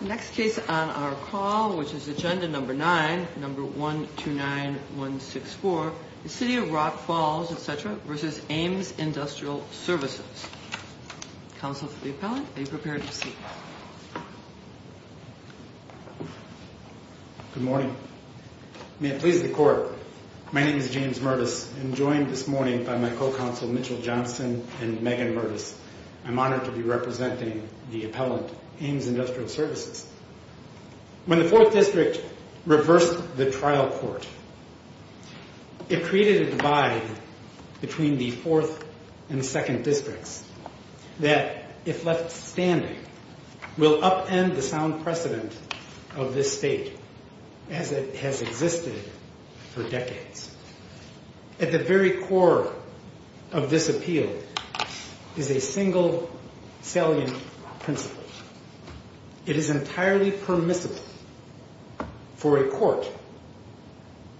Next case on our call, which is agenda number 9, number 129164, City of Rock Falls, etc. v. Aims Industrial Services Counsel for the appellant, be prepared to speak Good morning. May it please the court, my name is James Murtis I'm joined this morning by my co-counsel Mitchell Johnson and Megan Murtis I'm honored to be representing the appellant, Aims Industrial Services When the 4th district reversed the trial court, it created a divide between the 4th and 2nd districts that, if left standing, will upend the sound precedent of this state as it has existed for decades At the very core of this appeal is a single salient principle It is entirely permissible for a court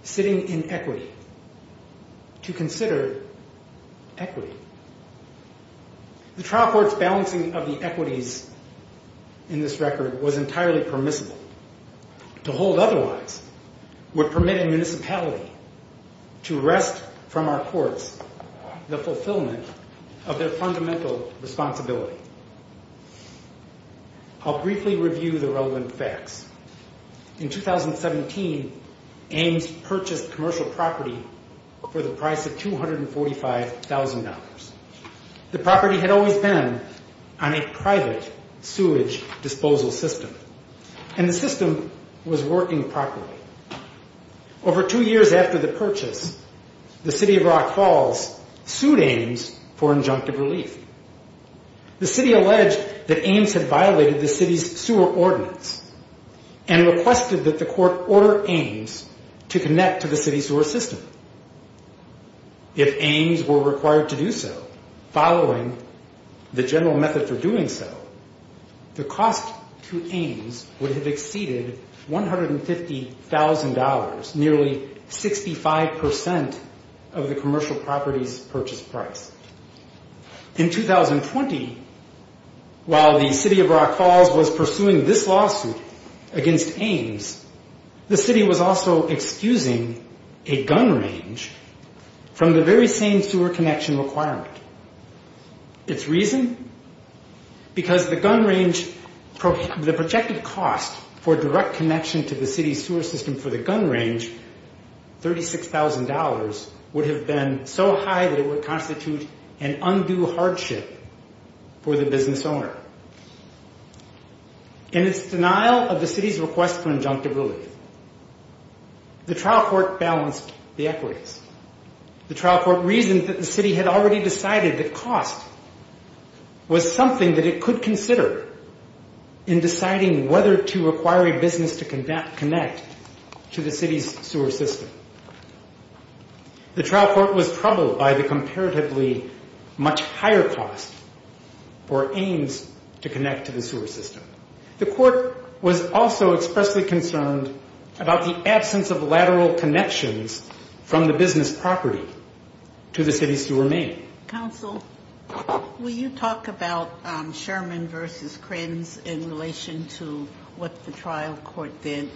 sitting in equity to consider equity The trial court's balancing of the equities in this record was entirely permissible To hold otherwise would permit a municipality to wrest from our courts the fulfillment of their fundamental responsibility I'll briefly review the relevant facts In 2017, Aims purchased commercial property for the price of $245,000 The property had always been on a private sewage disposal system and the system was working properly Over two years after the purchase, the city of Rock Falls sued Aims for injunctive relief The city alleged that Aims had violated the city's sewer ordinance and requested that the court order Aims to connect to the city's sewer system If Aims were required to do so, following the general method for doing so the cost to Aims would have exceeded $150,000, nearly 65% of the commercial property's purchase price In 2020, while the city of Rock Falls was pursuing this lawsuit against Aims the city was also excusing a gun range from the very same sewer connection requirement Its reason? Because the gun range, the projected cost for direct connection to the city's sewer system for the gun range $36,000, would have been so high that it would constitute an undue hardship for the business owner In its denial of the city's request for injunctive relief, the trial court balanced the equities The trial court reasoned that the city had already decided that cost was something that it could consider in deciding whether to require a business to connect to the city's sewer system The trial court was troubled by the comparatively much higher cost for Aims to connect to the sewer system The court was also expressly concerned about the absence of lateral connections from the business property to the city's sewer main Counsel, will you talk about Sherman v. Krims in relation to what the trial court did?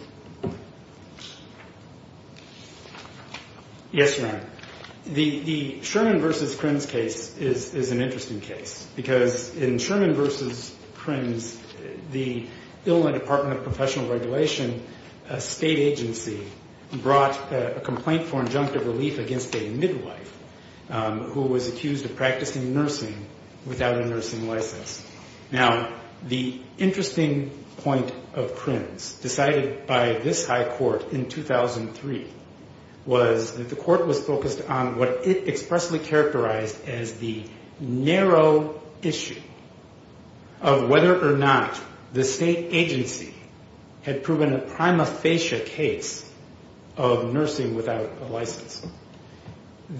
Yes, Your Honor. The Sherman v. Krims case is an interesting case because in Sherman v. Krims, the Illinois Department of Professional Regulation, a state agency brought a complaint for injunctive relief against a midwife who was accused of practicing nursing without a nursing license Now, the interesting point of Krims, decided by this high court in 2003 was that the court was focused on what it expressly characterized as the narrow issue of whether or not the state agency had proven a prima facie case of nursing without a license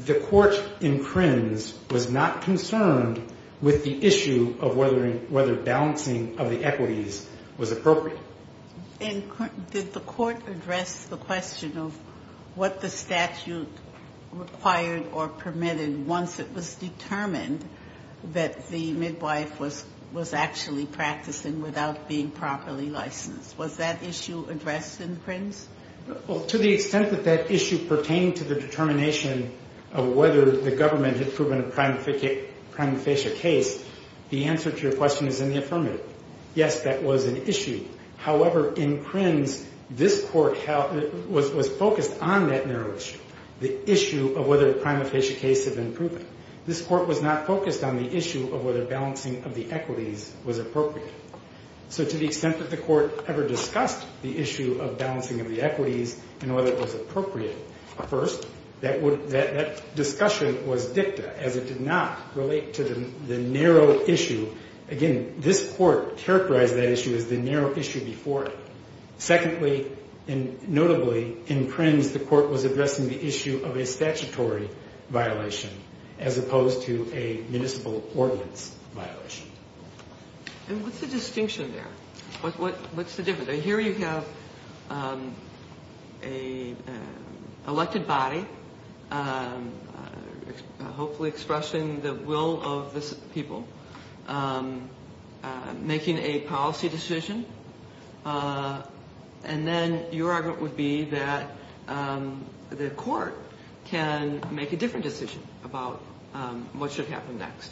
The court in Krims was not concerned with the issue of whether balancing of the equities was appropriate And did the court address the question of what the statute required or permitted once it was determined that the midwife was actually practicing without being properly licensed? Was that issue addressed in Krims? Well, to the extent that that issue pertained to the determination of whether the government had proven a prima facie case the answer to your question is in the affirmative. Yes, that was an issue. However, in Krims, this court was focused on that narrow issue, the issue of whether a prima facie case had been proven This court was not focused on the issue of whether balancing of the equities was appropriate So to the extent that the court ever discussed the issue of balancing of the equities and whether it was appropriate First, that discussion was dicta, as it did not relate to the narrow issue Again, this court characterized that issue as the narrow issue before it Secondly, and notably, in Krims the court was addressing the issue of a statutory violation as opposed to a municipal ordinance violation And what's the distinction there? What's the difference? Here you have an elected body, hopefully expressing the will of the people making a policy decision, and then your argument would be that the court can make a different decision about what should happen next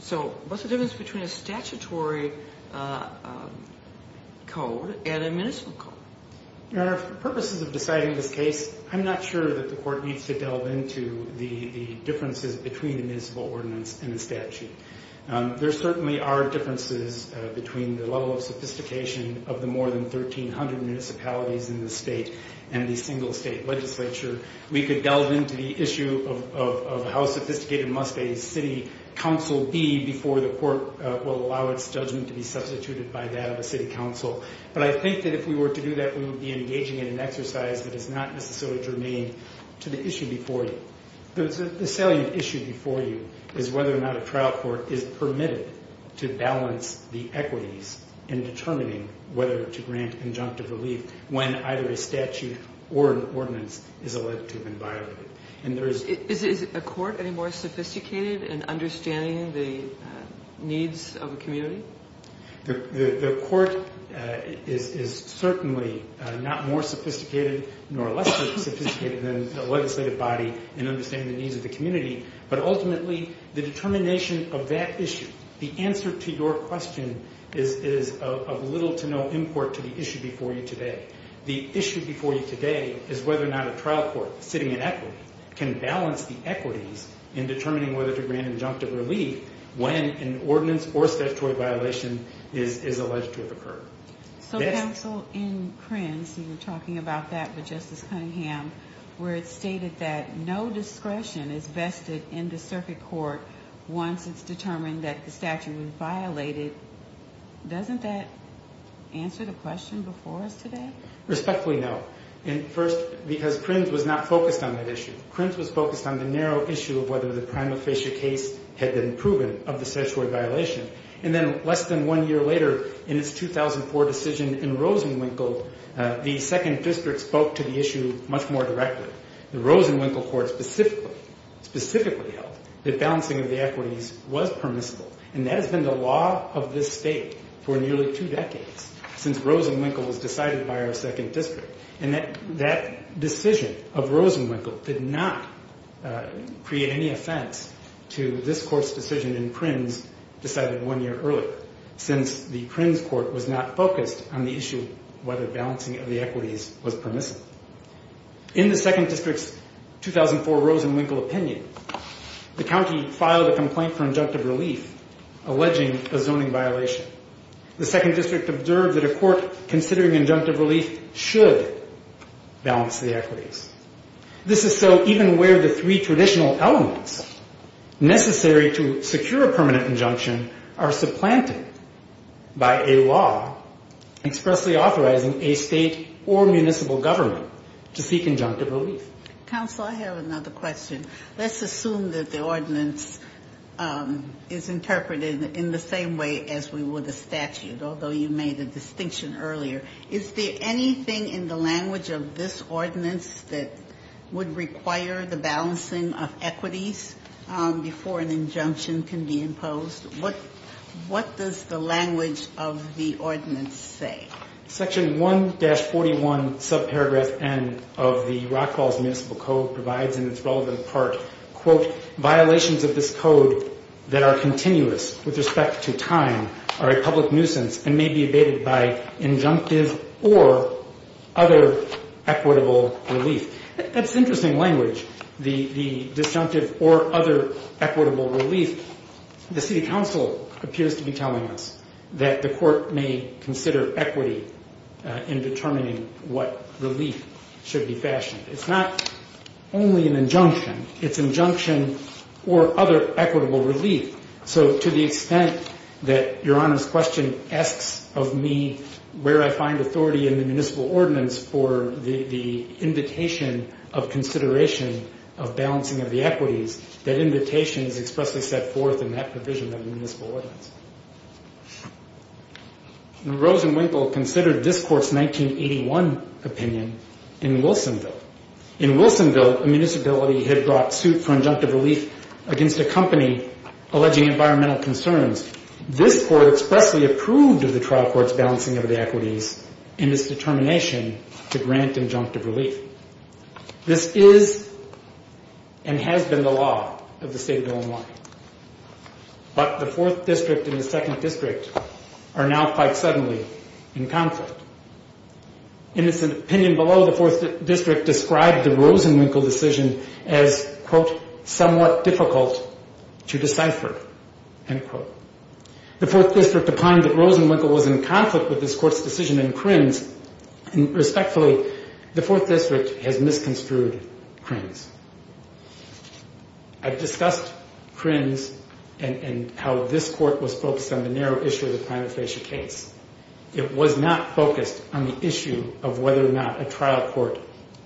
So what's the difference between a statutory code and a municipal code? Your Honor, for purposes of deciding this case, I'm not sure that the court needs to delve into the differences between the municipal ordinance and the statute There certainly are differences between the level of sophistication of the more than 1,300 municipalities in the state and the single state legislature We could delve into the issue of how sophisticated must a city council be before the court will allow its judgment to be substituted by that of a city council But I think that if we were to do that, we would be engaging in an exercise that is not necessarily germane to the issue before you The salient issue before you is whether or not a trial court is permitted to balance the equities in determining whether to grant injunctive relief when either a statute or an ordinance is elected and violated Is a court any more sophisticated in understanding the needs of a community? The court is certainly not more sophisticated nor less sophisticated than the legislative body in understanding the needs of the community But ultimately, the determination of that issue, the answer to your question, is of little to no import to the issue before you today The issue before you today is whether or not a trial court sitting in equity can balance the equities in determining whether to grant injunctive relief when an ordinance or statutory violation is alleged to have occurred So counsel, in Krenz, and you were talking about that with Justice Cunningham, where it's stated that no discretion is vested in the court in determining whether to grant injunctive relief Once it's determined that the statute was violated, doesn't that answer the question before us today? Respectfully, no. And first, because Krenz was not focused on that issue. Krenz was focused on the narrow issue of whether the prima facie case had been proven of the statutory violation And then less than one year later, in its 2004 decision in Rosenwinkle, the second district spoke to the issue much more directly The Rosenwinkle court specifically held that balancing of the equities was permissible And that has been the law of this state for nearly two decades, since Rosenwinkle was decided by our second district And that decision of Rosenwinkle did not create any offense to this court's decision in Krenz decided one year earlier Since the Krenz court was not focused on the issue of whether balancing of the equities was permissible In the second district's 2004 Rosenwinkle opinion, the county filed a complaint for injunctive relief, alleging a zoning violation The second district observed that a court considering injunctive relief should balance the equities This is so even where the three traditional elements necessary to secure a permanent injunction are supplanted by a law Expressly authorizing a state or municipal government to seek injunctive relief Counsel, I have another question. Let's assume that the ordinance is interpreted in the same way as we would a statute Although you made a distinction earlier. Is there anything in the language of this ordinance that would require the balancing of equities Before an injunction can be imposed? What does the language of the ordinance say? Section 1-41 subparagraph N of the Rockwalls Municipal Code provides in its relevant part Quote, violations of this code that are continuous with respect to time are a public nuisance and may be abated by injunctive Or other equitable relief. That's interesting language, the disjunctive or equitable relief The city council appears to be telling us that the court may consider equity in determining what relief should be fashioned It's not only an injunction. It's injunction or other equitable relief So to the extent that Your Honor's question asks of me where I find authority in the municipal ordinance for the invitation of consideration of balancing of the equities That invitation is expressly set forth in that provision of the municipal ordinance And Rosenwinkel considered this court's 1981 opinion in Wilsonville In Wilsonville, a municipality had brought suit for injunctive relief against a company alleging environmental concerns This court expressly approved of the trial court's balancing of the equities in its determination to grant injunctive relief This is and has been the law of the state of Illinois But the 4th district and the 2nd district are now quite suddenly in conflict In its opinion below, the 4th district described the Rosenwinkel decision as, quote, somewhat difficult to decipher, end quote The 4th district opined that Rosenwinkel was in conflict with this court's decision And Krinz, respectfully, the 4th district has misconstrued Krinz I've discussed Krinz and how this court was focused on the narrow issue of the prima facie case It was not focused on the issue of whether or not a trial court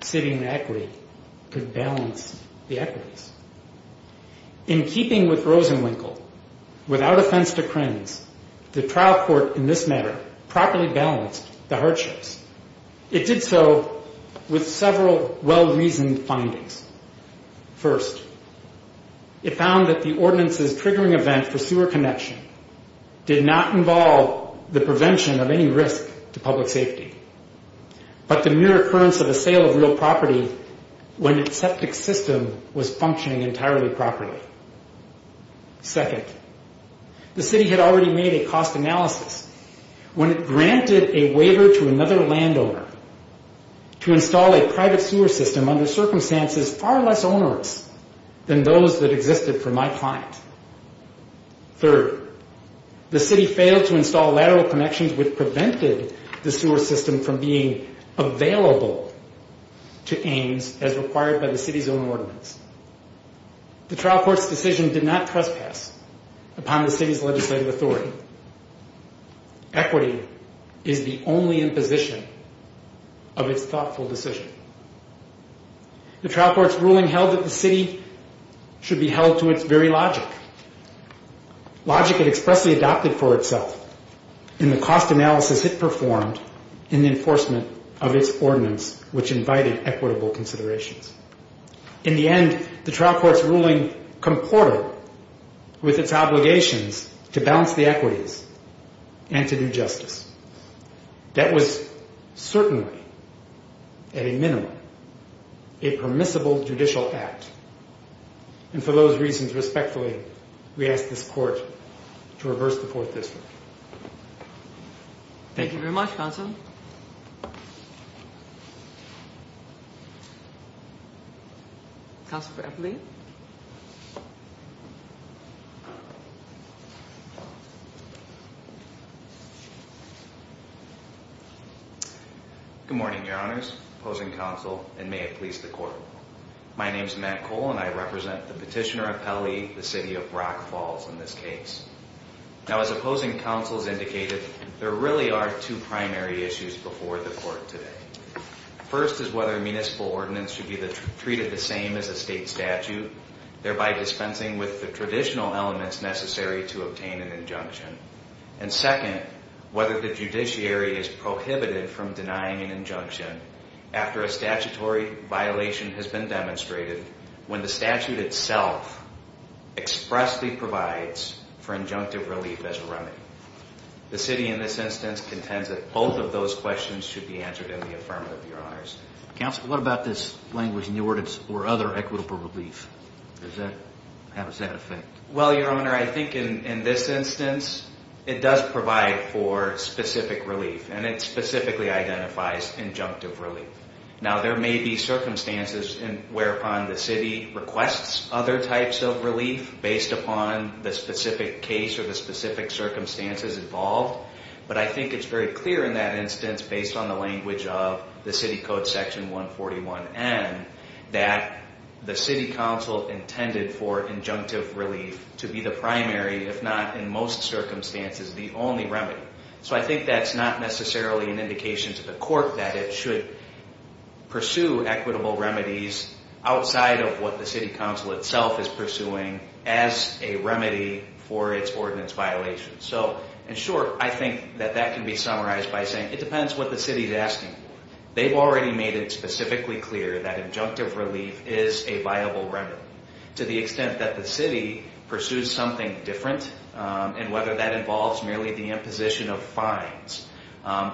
sitting the equity could balance the equities In keeping with Rosenwinkel, without offense to Krinz, the trial court in this matter Properly balanced the hardships. It did so with several well-reasoned findings First, it found that the ordinance's triggering event for sewer connection did not involve the prevention of any risk to public safety But the mere occurrence of a sale of real property when its septic system was functioning entirely properly Second, the city had already made a cost analysis when it granted a waiver to another landowner To install a private sewer system under circumstances far less onerous than those that existed for my client Third, the city failed to install lateral connections which prevented the sewer system from being available to Ames As required by the city's own ordinance. The trial court's decision did not trespass upon the city's legislative authority Equity is the only imposition of its thoughtful decision The trial court's ruling held that the city should be held to its very logic Logic it expressly adopted for itself in the cost analysis it performed in the enforcement of its ordinance Which invited equitable considerations In the end, the trial court's ruling comported with its obligations to balance the equities and to do justice That was certainly, at a minimum, a permissible judicial act And for those reasons, respectfully, we ask this court to reverse the fourth district Thank you very much, counsel Counsel for Appellee Good morning, your honors, opposing counsel, and may it please the court My name is Matt Cole and I represent the petitioner appellee, the city of Brock Falls in this case Now, as opposing counsel has indicated, there really are two primary issues before the court today First is whether a municipal ordinance should be treated the same as a state statute Thereby dispensing with the traditional elements necessary to obtain an injunction And second, whether the judiciary is prohibited from denying an injunction after a statutory violation has been demonstrated When the statute itself expressly provides for injunctive relief as a remedy The city in this instance contends that both of those questions should be answered in the affirmative, your honors Counsel, what about this language in the ordinance for other equitable relief? How does that affect? Well, your honor, I think in this instance it does provide for specific relief And it specifically identifies injunctive relief Now, there may be circumstances whereupon the city requests other types of relief Based upon the specific case or the specific circumstances involved But I think it's very clear in that instance, based on the language of the City Code Section 141N That the city council intended for injunctive relief to be the primary, if not in most circumstances, the only remedy So I think that's not necessarily an indication to the court that it should pursue equitable remedies Outside of what the city council itself is pursuing as a remedy for its ordinance violations So, in short, I think that that can be summarized by saying it depends what the city is asking for They've already made it specifically clear that injunctive relief is a viable remedy To the extent that the city pursues something different And whether that involves merely the imposition of fines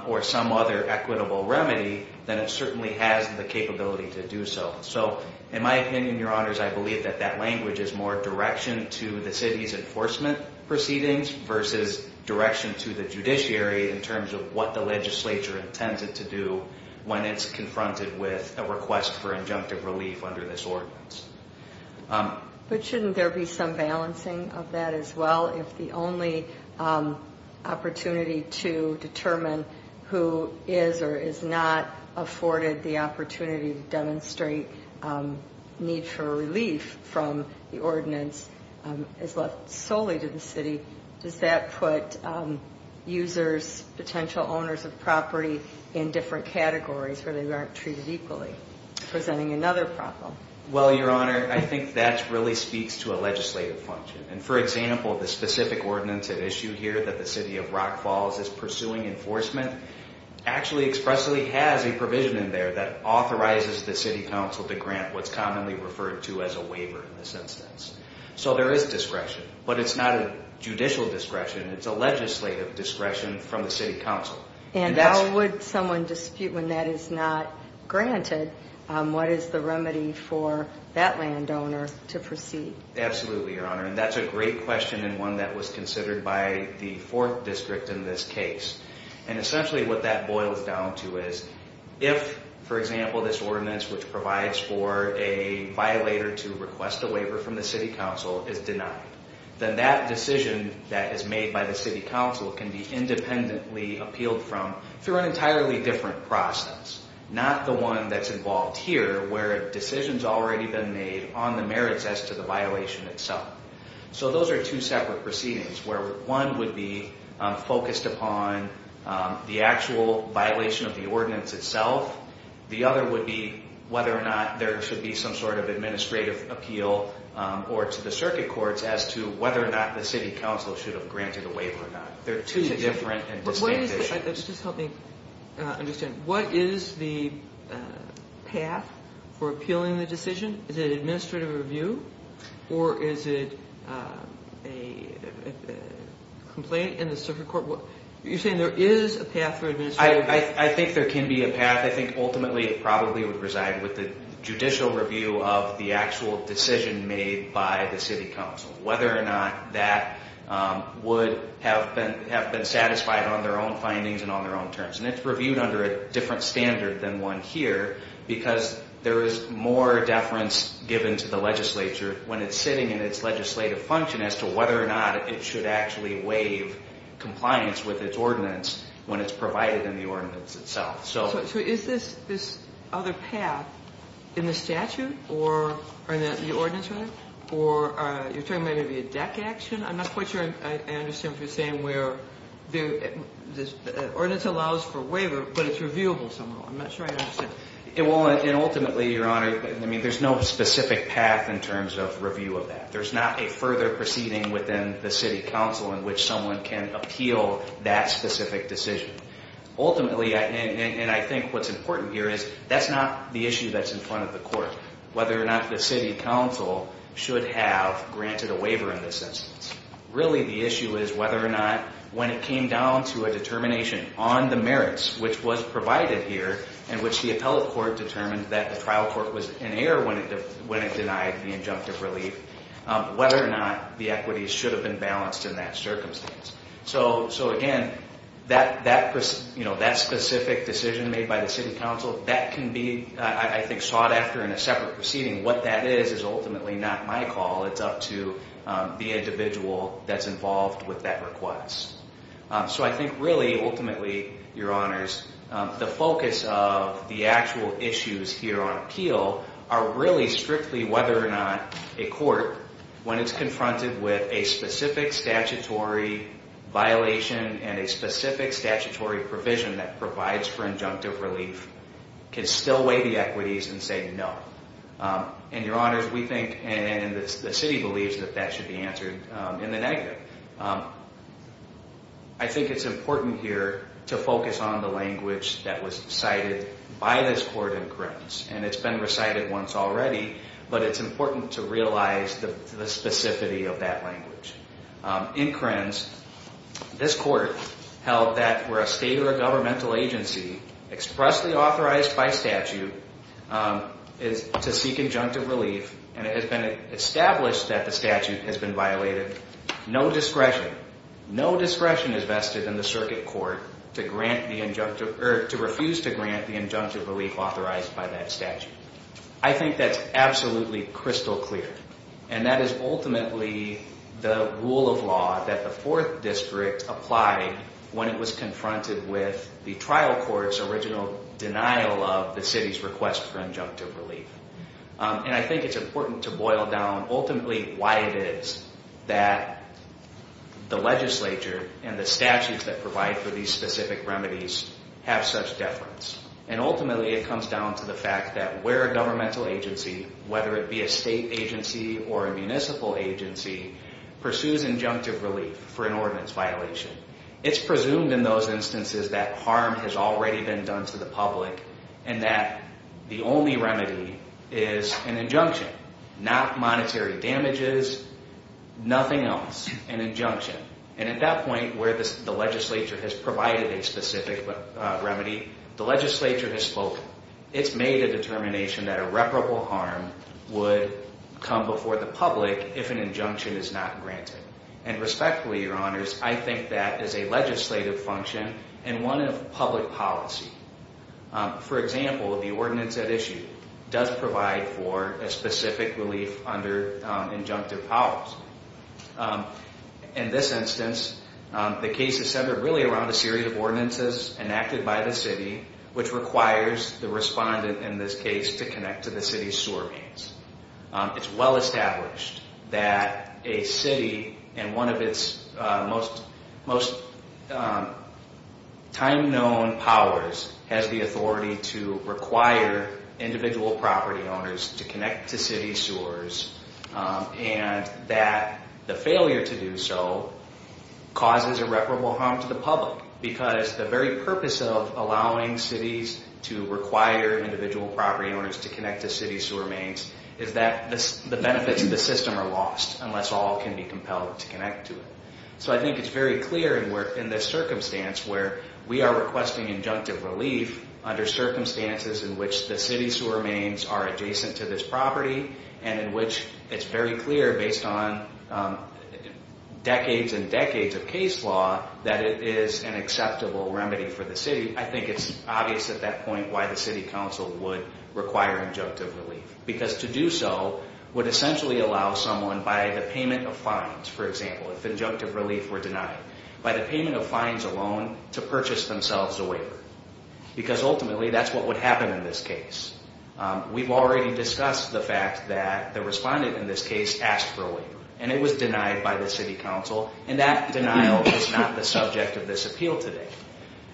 or some other equitable remedy Then it certainly has the capability to do so So, in my opinion, your honors, I believe that that language is more direction to the city's enforcement proceedings Versus direction to the judiciary in terms of what the legislature intends it to do When it's confronted with a request for injunctive relief under this ordinance But shouldn't there be some balancing of that as well? If the only opportunity to determine who is or is not afforded the opportunity to demonstrate need for relief From the ordinance is left solely to the city Does that put users, potential owners of property in different categories where they aren't treated equally? Presenting another problem Well, your honor, I think that really speaks to a legislative function And, for example, the specific ordinance at issue here that the city of Rock Falls is pursuing enforcement Actually expressly has a provision in there that authorizes the city council to grant what's commonly referred to as a waiver in this instance So there is discretion, but it's not a judicial discretion It's a legislative discretion from the city council And how would someone dispute when that is not granted? What is the remedy for that landowner to proceed? Absolutely, your honor, and that's a great question and one that was considered by the 4th district in this case And essentially what that boils down to is If, for example, this ordinance which provides for a violator to request a waiver from the city council is denied Then that decision that is made by the city council can be independently appealed from through an entirely different process Not the one that's involved here where a decision's already been made on the merits as to the violation itself So those are two separate proceedings where one would be focused upon the actual violation of the ordinance itself The other would be whether or not there should be some sort of administrative appeal or to the circuit courts As to whether or not the city council should have granted a waiver or not They're two different and distinct issues Let's just help me understand What is the path for appealing the decision? Is it administrative review or is it a complaint in the circuit court? You're saying there is a path for administrative review? I think there can be a path I think ultimately it probably would reside with the judicial review of the actual decision made by the city council Whether or not that would have been satisfied on their own findings and on their own terms And it's reviewed under a different standard than one here Because there is more deference given to the legislature when it's sitting in its legislative function As to whether or not it should actually waive compliance with its ordinance when it's provided in the ordinance itself So is this other path in the statute or in the ordinance? Or you're talking about maybe a deck action? I'm not quite sure I understand what you're saying where the ordinance allows for a waiver but it's reviewable somehow I'm not sure I understand Ultimately, Your Honor, there's no specific path in terms of review of that There's not a further proceeding within the city council in which someone can appeal that specific decision Ultimately, and I think what's important here is that's not the issue that's in front of the court Whether or not the city council should have granted a waiver in this instance Really the issue is whether or not when it came down to a determination on the merits which was provided here In which the appellate court determined that the trial court was in error when it denied the injunctive relief Whether or not the equities should have been balanced in that circumstance So again, that specific decision made by the city council, that can be I think sought after in a separate proceeding What that is is ultimately not my call, it's up to the individual that's involved with that request So I think really ultimately, Your Honors, the focus of the actual issues here on appeal are really strictly whether or not A court, when it's confronted with a specific statutory violation and a specific statutory provision that provides for injunctive relief Can still weigh the equities and say no And Your Honors, we think and the city believes that that should be answered in the negative I think it's important here to focus on the language that was cited by this court in Grims And it's been recited once already, but it's important to realize the specificity of that language In Grims, this court held that for a state or a governmental agency expressly authorized by statute to seek injunctive relief And it has been established that the statute has been violated No discretion, no discretion is vested in the circuit court to grant the injunctive Or to refuse to grant the injunctive relief authorized by that statute I think that's absolutely crystal clear And that is ultimately the rule of law that the 4th District applied when it was confronted with the trial court's original denial of the city's request for injunctive relief And I think it's important to boil down ultimately why it is that the legislature and the statutes that provide for these specific remedies have such deference And ultimately it comes down to the fact that where a governmental agency, whether it be a state agency or a municipal agency, pursues injunctive relief for an ordinance violation It's presumed in those instances that harm has already been done to the public and that the only remedy is an injunction Not monetary damages, nothing else, an injunction And at that point where the legislature has provided a specific remedy, the legislature has spoken It's made a determination that irreparable harm would come before the public if an injunction is not granted And respectfully, your honors, I think that is a legislative function and one of public policy For example, the ordinance at issue does provide for a specific relief under injunctive powers In this instance, the case is centered really around a series of ordinances enacted by the city which requires the respondent in this case to connect to the city's sewer mains It's well established that a city and one of its most time-known powers has the authority to require individual property owners to connect to city sewers And that the failure to do so causes irreparable harm to the public Because the very purpose of allowing cities to require individual property owners to connect to city sewer mains Is that the benefits of the system are lost unless all can be compelled to connect to it So I think it's very clear in this circumstance where we are requesting injunctive relief Under circumstances in which the city sewer mains are adjacent to this property And in which it's very clear based on decades and decades of case law that it is an acceptable remedy for the city I think it's obvious at that point why the city council would require injunctive relief Because to do so would essentially allow someone by the payment of fines, for example, if injunctive relief were denied By the payment of fines alone to purchase themselves a waiver Because ultimately that's what would happen in this case We've already discussed the fact that the respondent in this case asked for a waiver And it was denied by the city council and that denial is not the subject of this appeal today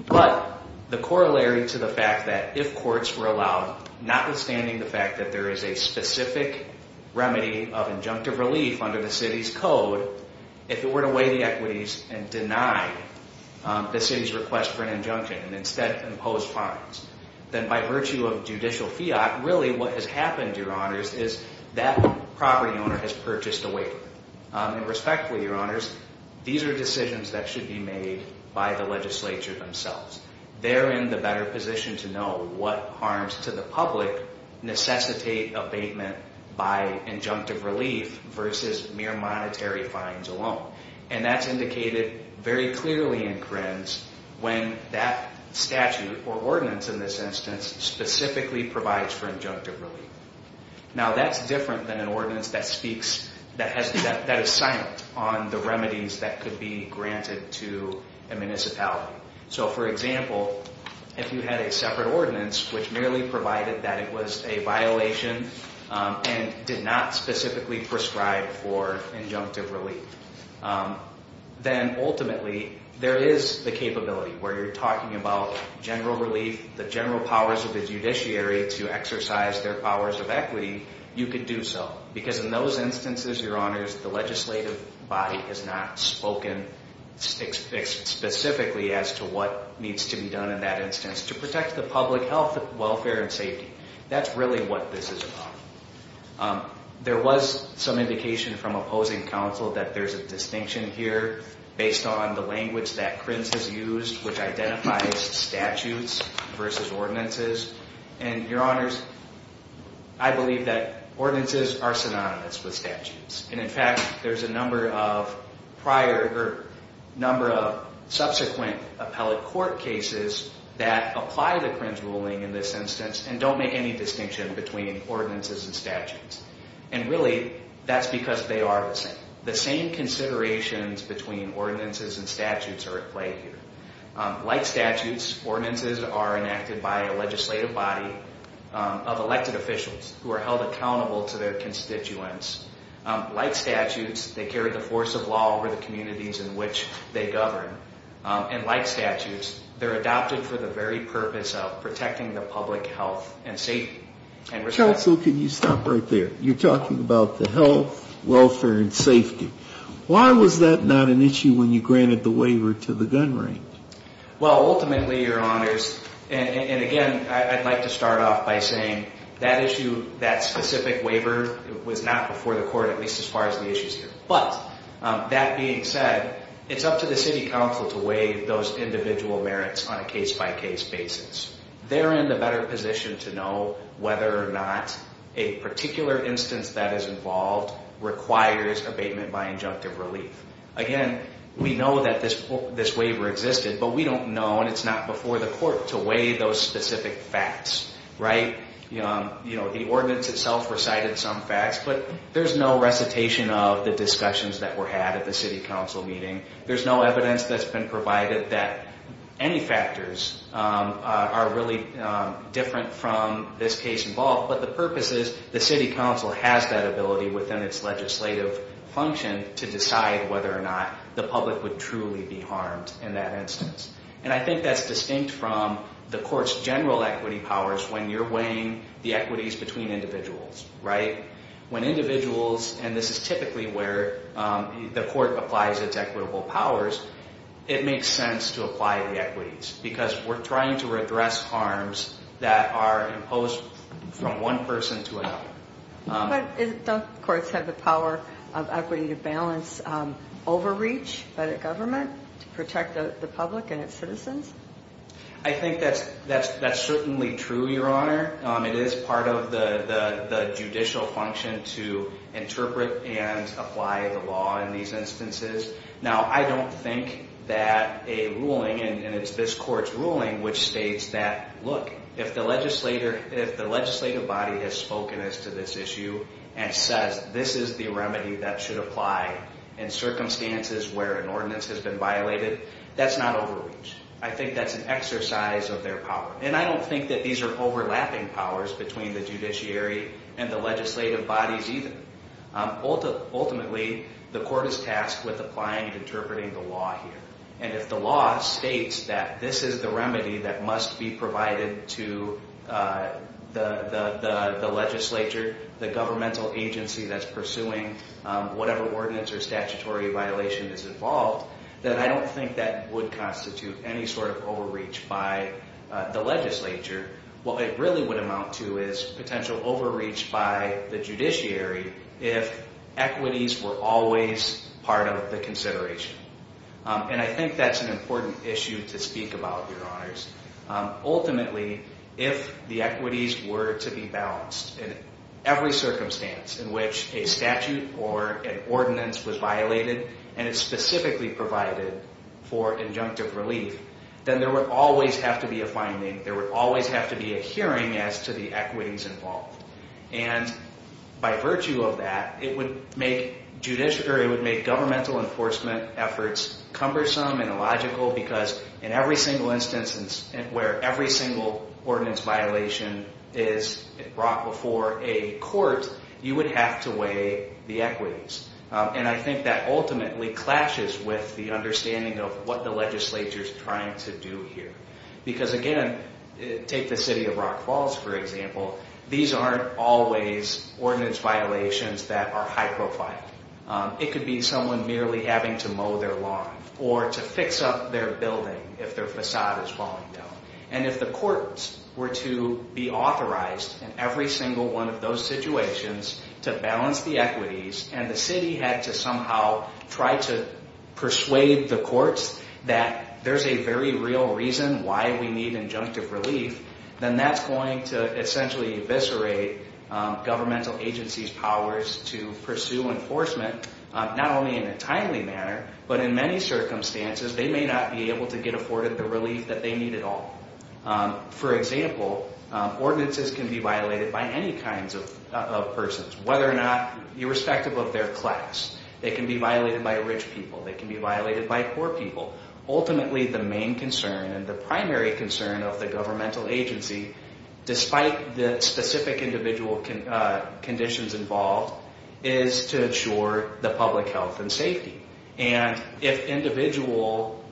But the corollary to the fact that if courts were allowed, notwithstanding the fact that there is a specific remedy of injunctive relief under the city's code If it were to weigh the equities and deny the city's request for an injunction and instead impose fines Then by virtue of judicial fiat, really what has happened, your honors, is that property owner has purchased a waiver And respectfully, your honors, these are decisions that should be made by the legislature themselves They're in the better position to know what harms to the public necessitate abatement by injunctive relief versus mere monetary fines alone And that's indicated very clearly in CRINS when that statute or ordinance in this instance specifically provides for injunctive relief Now that's different than an ordinance that speaks, that is silent on the remedies that could be granted to a municipality So for example, if you had a separate ordinance which merely provided that it was a violation and did not specifically prescribe for injunctive relief Then ultimately, there is the capability where you're talking about general relief, the general powers of the judiciary to exercise their powers of equity You could do so because in those instances, your honors, the legislative body has not spoken specifically as to what needs to be done in that instance To protect the public health, welfare, and safety That's really what this is about There was some indication from opposing counsel that there's a distinction here based on the language that CRINS has used which identifies statutes versus ordinances And your honors, I believe that ordinances are synonymous with statutes And in fact, there's a number of subsequent appellate court cases that apply the CRINS ruling in this instance And don't make any distinction between ordinances and statutes And really, that's because they are the same The same considerations between ordinances and statutes are at play here Like statutes, ordinances are enacted by a legislative body of elected officials who are held accountable to their constituents Like statutes, they carry the force of law over the communities in which they govern And like statutes, they're adopted for the very purpose of protecting the public health and safety Counsel, can you stop right there? You're talking about the health, welfare, and safety Why was that not an issue when you granted the waiver to the gun range? Well, ultimately, your honors, and again, I'd like to start off by saying that issue, that specific waiver, was not before the court at least as far as the issue is here But, that being said, it's up to the city council to weigh those individual merits on a case-by-case basis They're in the better position to know whether or not a particular instance that is involved requires abatement by injunctive relief Again, we know that this waiver existed, but we don't know, and it's not before the court to weigh those specific facts The ordinance itself recited some facts, but there's no recitation of the discussions that were had at the city council meeting There's no evidence that's been provided that any factors are really different from this case involved But the purpose is, the city council has that ability within its legislative function to decide whether or not the public would truly be harmed in that instance And I think that's distinct from the court's general equity powers when you're weighing the equities between individuals When individuals, and this is typically where the court applies its equitable powers, it makes sense to apply the equities Because we're trying to redress harms that are imposed from one person to another But don't courts have the power of equity to balance overreach by the government to protect the public and its citizens? I think that's certainly true, Your Honor It is part of the judicial function to interpret and apply the law in these instances Now, I don't think that a ruling, and it's this court's ruling which states that If the legislative body has spoken as to this issue and says this is the remedy that should apply in circumstances where an ordinance has been violated That's not overreach. I think that's an exercise of their power And I don't think that these are overlapping powers between the judiciary and the legislative bodies either Ultimately, the court is tasked with applying and interpreting the law here And if the law states that this is the remedy that must be provided to the legislature The governmental agency that's pursuing whatever ordinance or statutory violation is involved Then I don't think that would constitute any sort of overreach by the legislature What it really would amount to is potential overreach by the judiciary if equities were always part of the consideration And I think that's an important issue to speak about, Your Honors Ultimately, if the equities were to be balanced in every circumstance in which a statute or an ordinance was violated And it's specifically provided for injunctive relief Then there would always have to be a finding, there would always have to be a hearing as to the equities involved And by virtue of that, it would make governmental enforcement efforts cumbersome and illogical Because in every single instance where every single ordinance violation is brought before a court You would have to weigh the equities And I think that ultimately clashes with the understanding of what the legislature is trying to do here Because again, take the city of Rock Falls for example These aren't always ordinance violations that are high profile It could be someone merely having to mow their lawn or to fix up their building if their facade is falling down And if the courts were to be authorized in every single one of those situations to balance the equities And the city had to somehow try to persuade the courts that there's a very real reason why we need injunctive relief Then that's going to essentially eviscerate governmental agencies' powers to pursue enforcement Not only in a timely manner, but in many circumstances they may not be able to get afforded the relief that they need at all For example, ordinances can be violated by any kinds of persons Irrespective of their class, they can be violated by rich people, they can be violated by poor people Ultimately the main concern and the primary concern of the governmental agency Despite the specific individual conditions involved is to ensure the public health and safety And if individual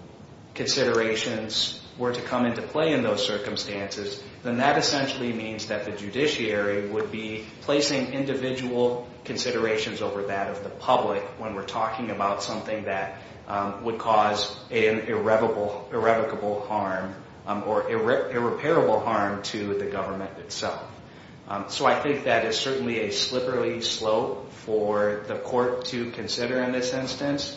considerations were to come into play in those circumstances Then that essentially means that the judiciary would be placing individual considerations over that of the public When we're talking about something that would cause irrevocable harm or irreparable harm to the government itself So I think that is certainly a slippery slope for the court to consider in this instance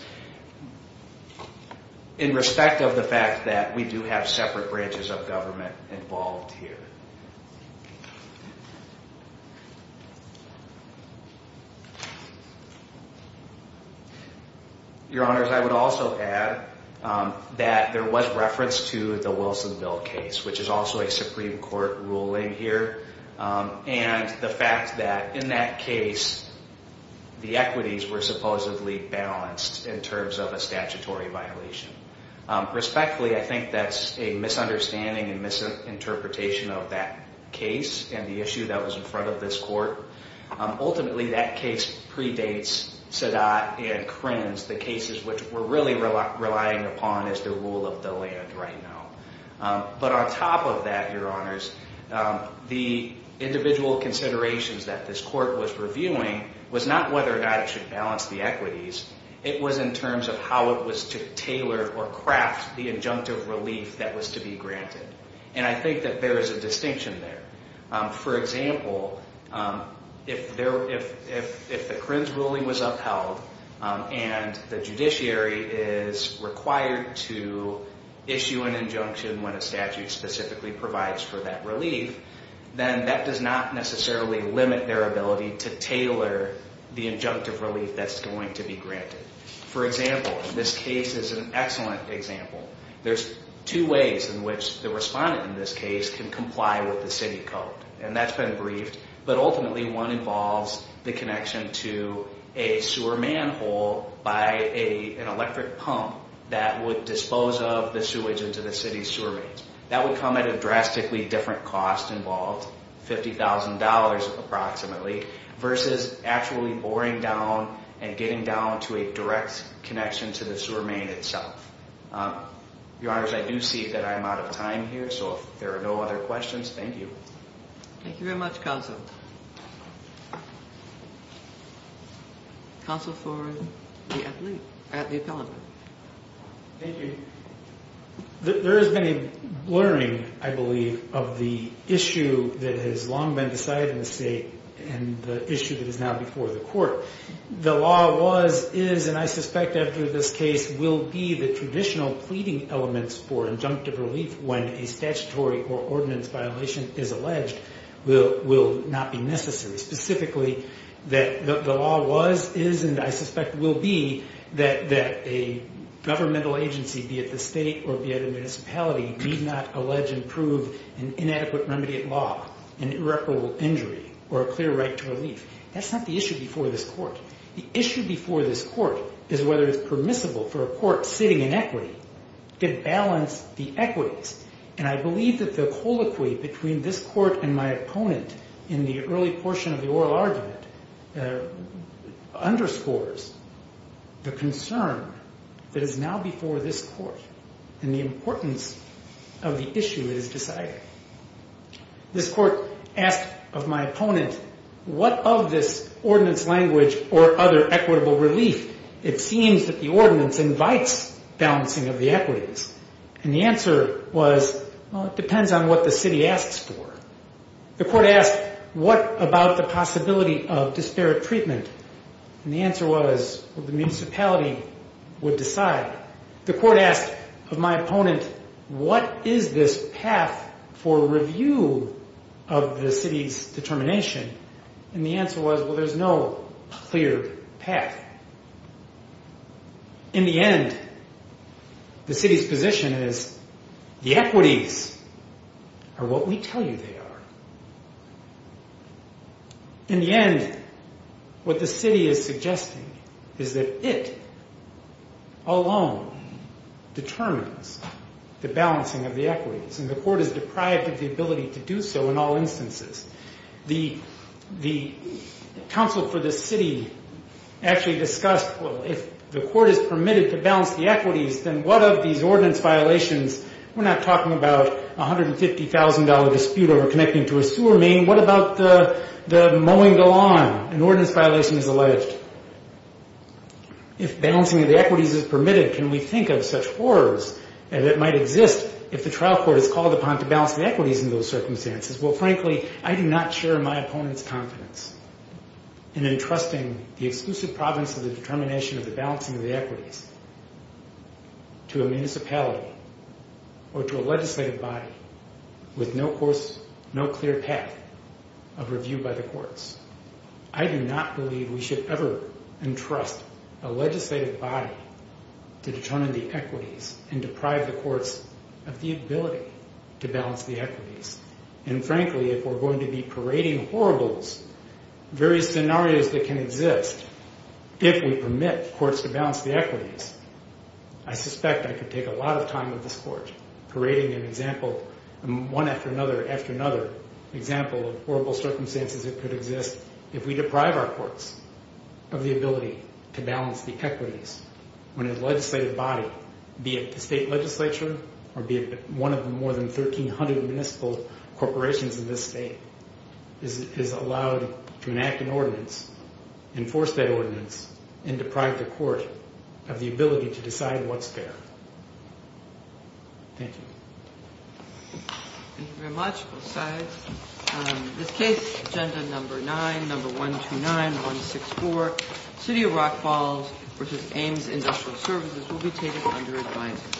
In respect of the fact that we do have separate branches of government involved here Your honors, I would also add that there was reference to the Wilsonville case Which is also a Supreme Court ruling here And the fact that in that case the equities were supposedly balanced in terms of a statutory violation Respectfully, I think that's a misunderstanding and misinterpretation of that case and the issue that was in front of this court Ultimately that case predates Sedat and Krenz, the cases which we're really relying upon as the rule of the land right now But on top of that, your honors, the individual considerations that this court was reviewing Was not whether or not it should balance the equities It was in terms of how it was to tailor or craft the injunctive relief that was to be granted And I think that there is a distinction there For example, if the Krenz ruling was upheld And the judiciary is required to issue an injunction when a statute specifically provides for that relief Then that does not necessarily limit their ability to tailor the injunctive relief that's going to be granted For example, this case is an excellent example There's two ways in which the respondent in this case can comply with the city code And that's been briefed But ultimately one involves the connection to a sewer manhole by an electric pump That would dispose of the sewage into the city's sewer mains That would come at a drastically different cost involved $50,000 approximately Versus actually boring down and getting down to a direct connection to the sewer main itself Your honors, I do see that I'm out of time here So if there are no other questions, thank you Thank you very much, counsel Counsel for the appellant Thank you There has been a blurring, I believe, of the issue that has long been decided in the state And the issue that is now before the court The law is, and I suspect after this case, will be the traditional pleading elements for injunctive relief When a statutory or ordinance violation is alleged Will not be necessary Specifically that the law was, is, and I suspect will be That a governmental agency, be it the state or be it a municipality Need not allege and prove an inadequate remedy at law An irreparable injury or a clear right to relief That's not the issue before this court The issue before this court is whether it's permissible for a court sitting in equity To balance the equities And I believe that the colloquy between this court and my opponent In the early portion of the oral argument Underscores the concern that is now before this court And the importance of the issue that is decided This court asked of my opponent What of this ordinance language or other equitable relief It seems that the ordinance invites balancing of the equities And the answer was, well it depends on what the city asks for The court asked what about the possibility of disparate treatment And the answer was, well the municipality would decide The court asked of my opponent What is this path for review of the city's determination And the answer was, well there's no clear path In the end, the city's position is The equities are what we tell you they are In the end, what the city is suggesting Is that it alone determines the balancing of the equities And the court is deprived of the ability to do so in all instances The council for the city actually discussed Well if the court is permitted to balance the equities Then what of these ordinance violations We're not talking about a $150,000 dispute over connecting to a sewer main What about the mowing the lawn? An ordinance violation is alleged If balancing of the equities is permitted Can we think of such horrors that might exist If the trial court is called upon to balance the equities in those circumstances Well frankly, I do not share my opponent's confidence In entrusting the exclusive province of the determination of the balancing of the equities To a municipality or to a legislative body With no clear path of review by the courts I do not believe we should ever entrust a legislative body To determine the equities and deprive the courts Of the ability to balance the equities And frankly, if we're going to be parading horribles Various scenarios that can exist If we permit courts to balance the equities I suspect I could take a lot of time with this court Parading an example, one after another after another Example of horrible circumstances that could exist If we deprive our courts of the ability to balance the equities When a legislative body, be it the state legislature Or be it one of the more than 1,300 municipal corporations in this state Is allowed to enact an ordinance Enforce that ordinance And deprive the court of the ability to decide what's fair Thank you Thank you very much, both sides This case, agenda number 9, number 129-164 City of Rock Falls v. Ames Industrial Services Will be taken under advisory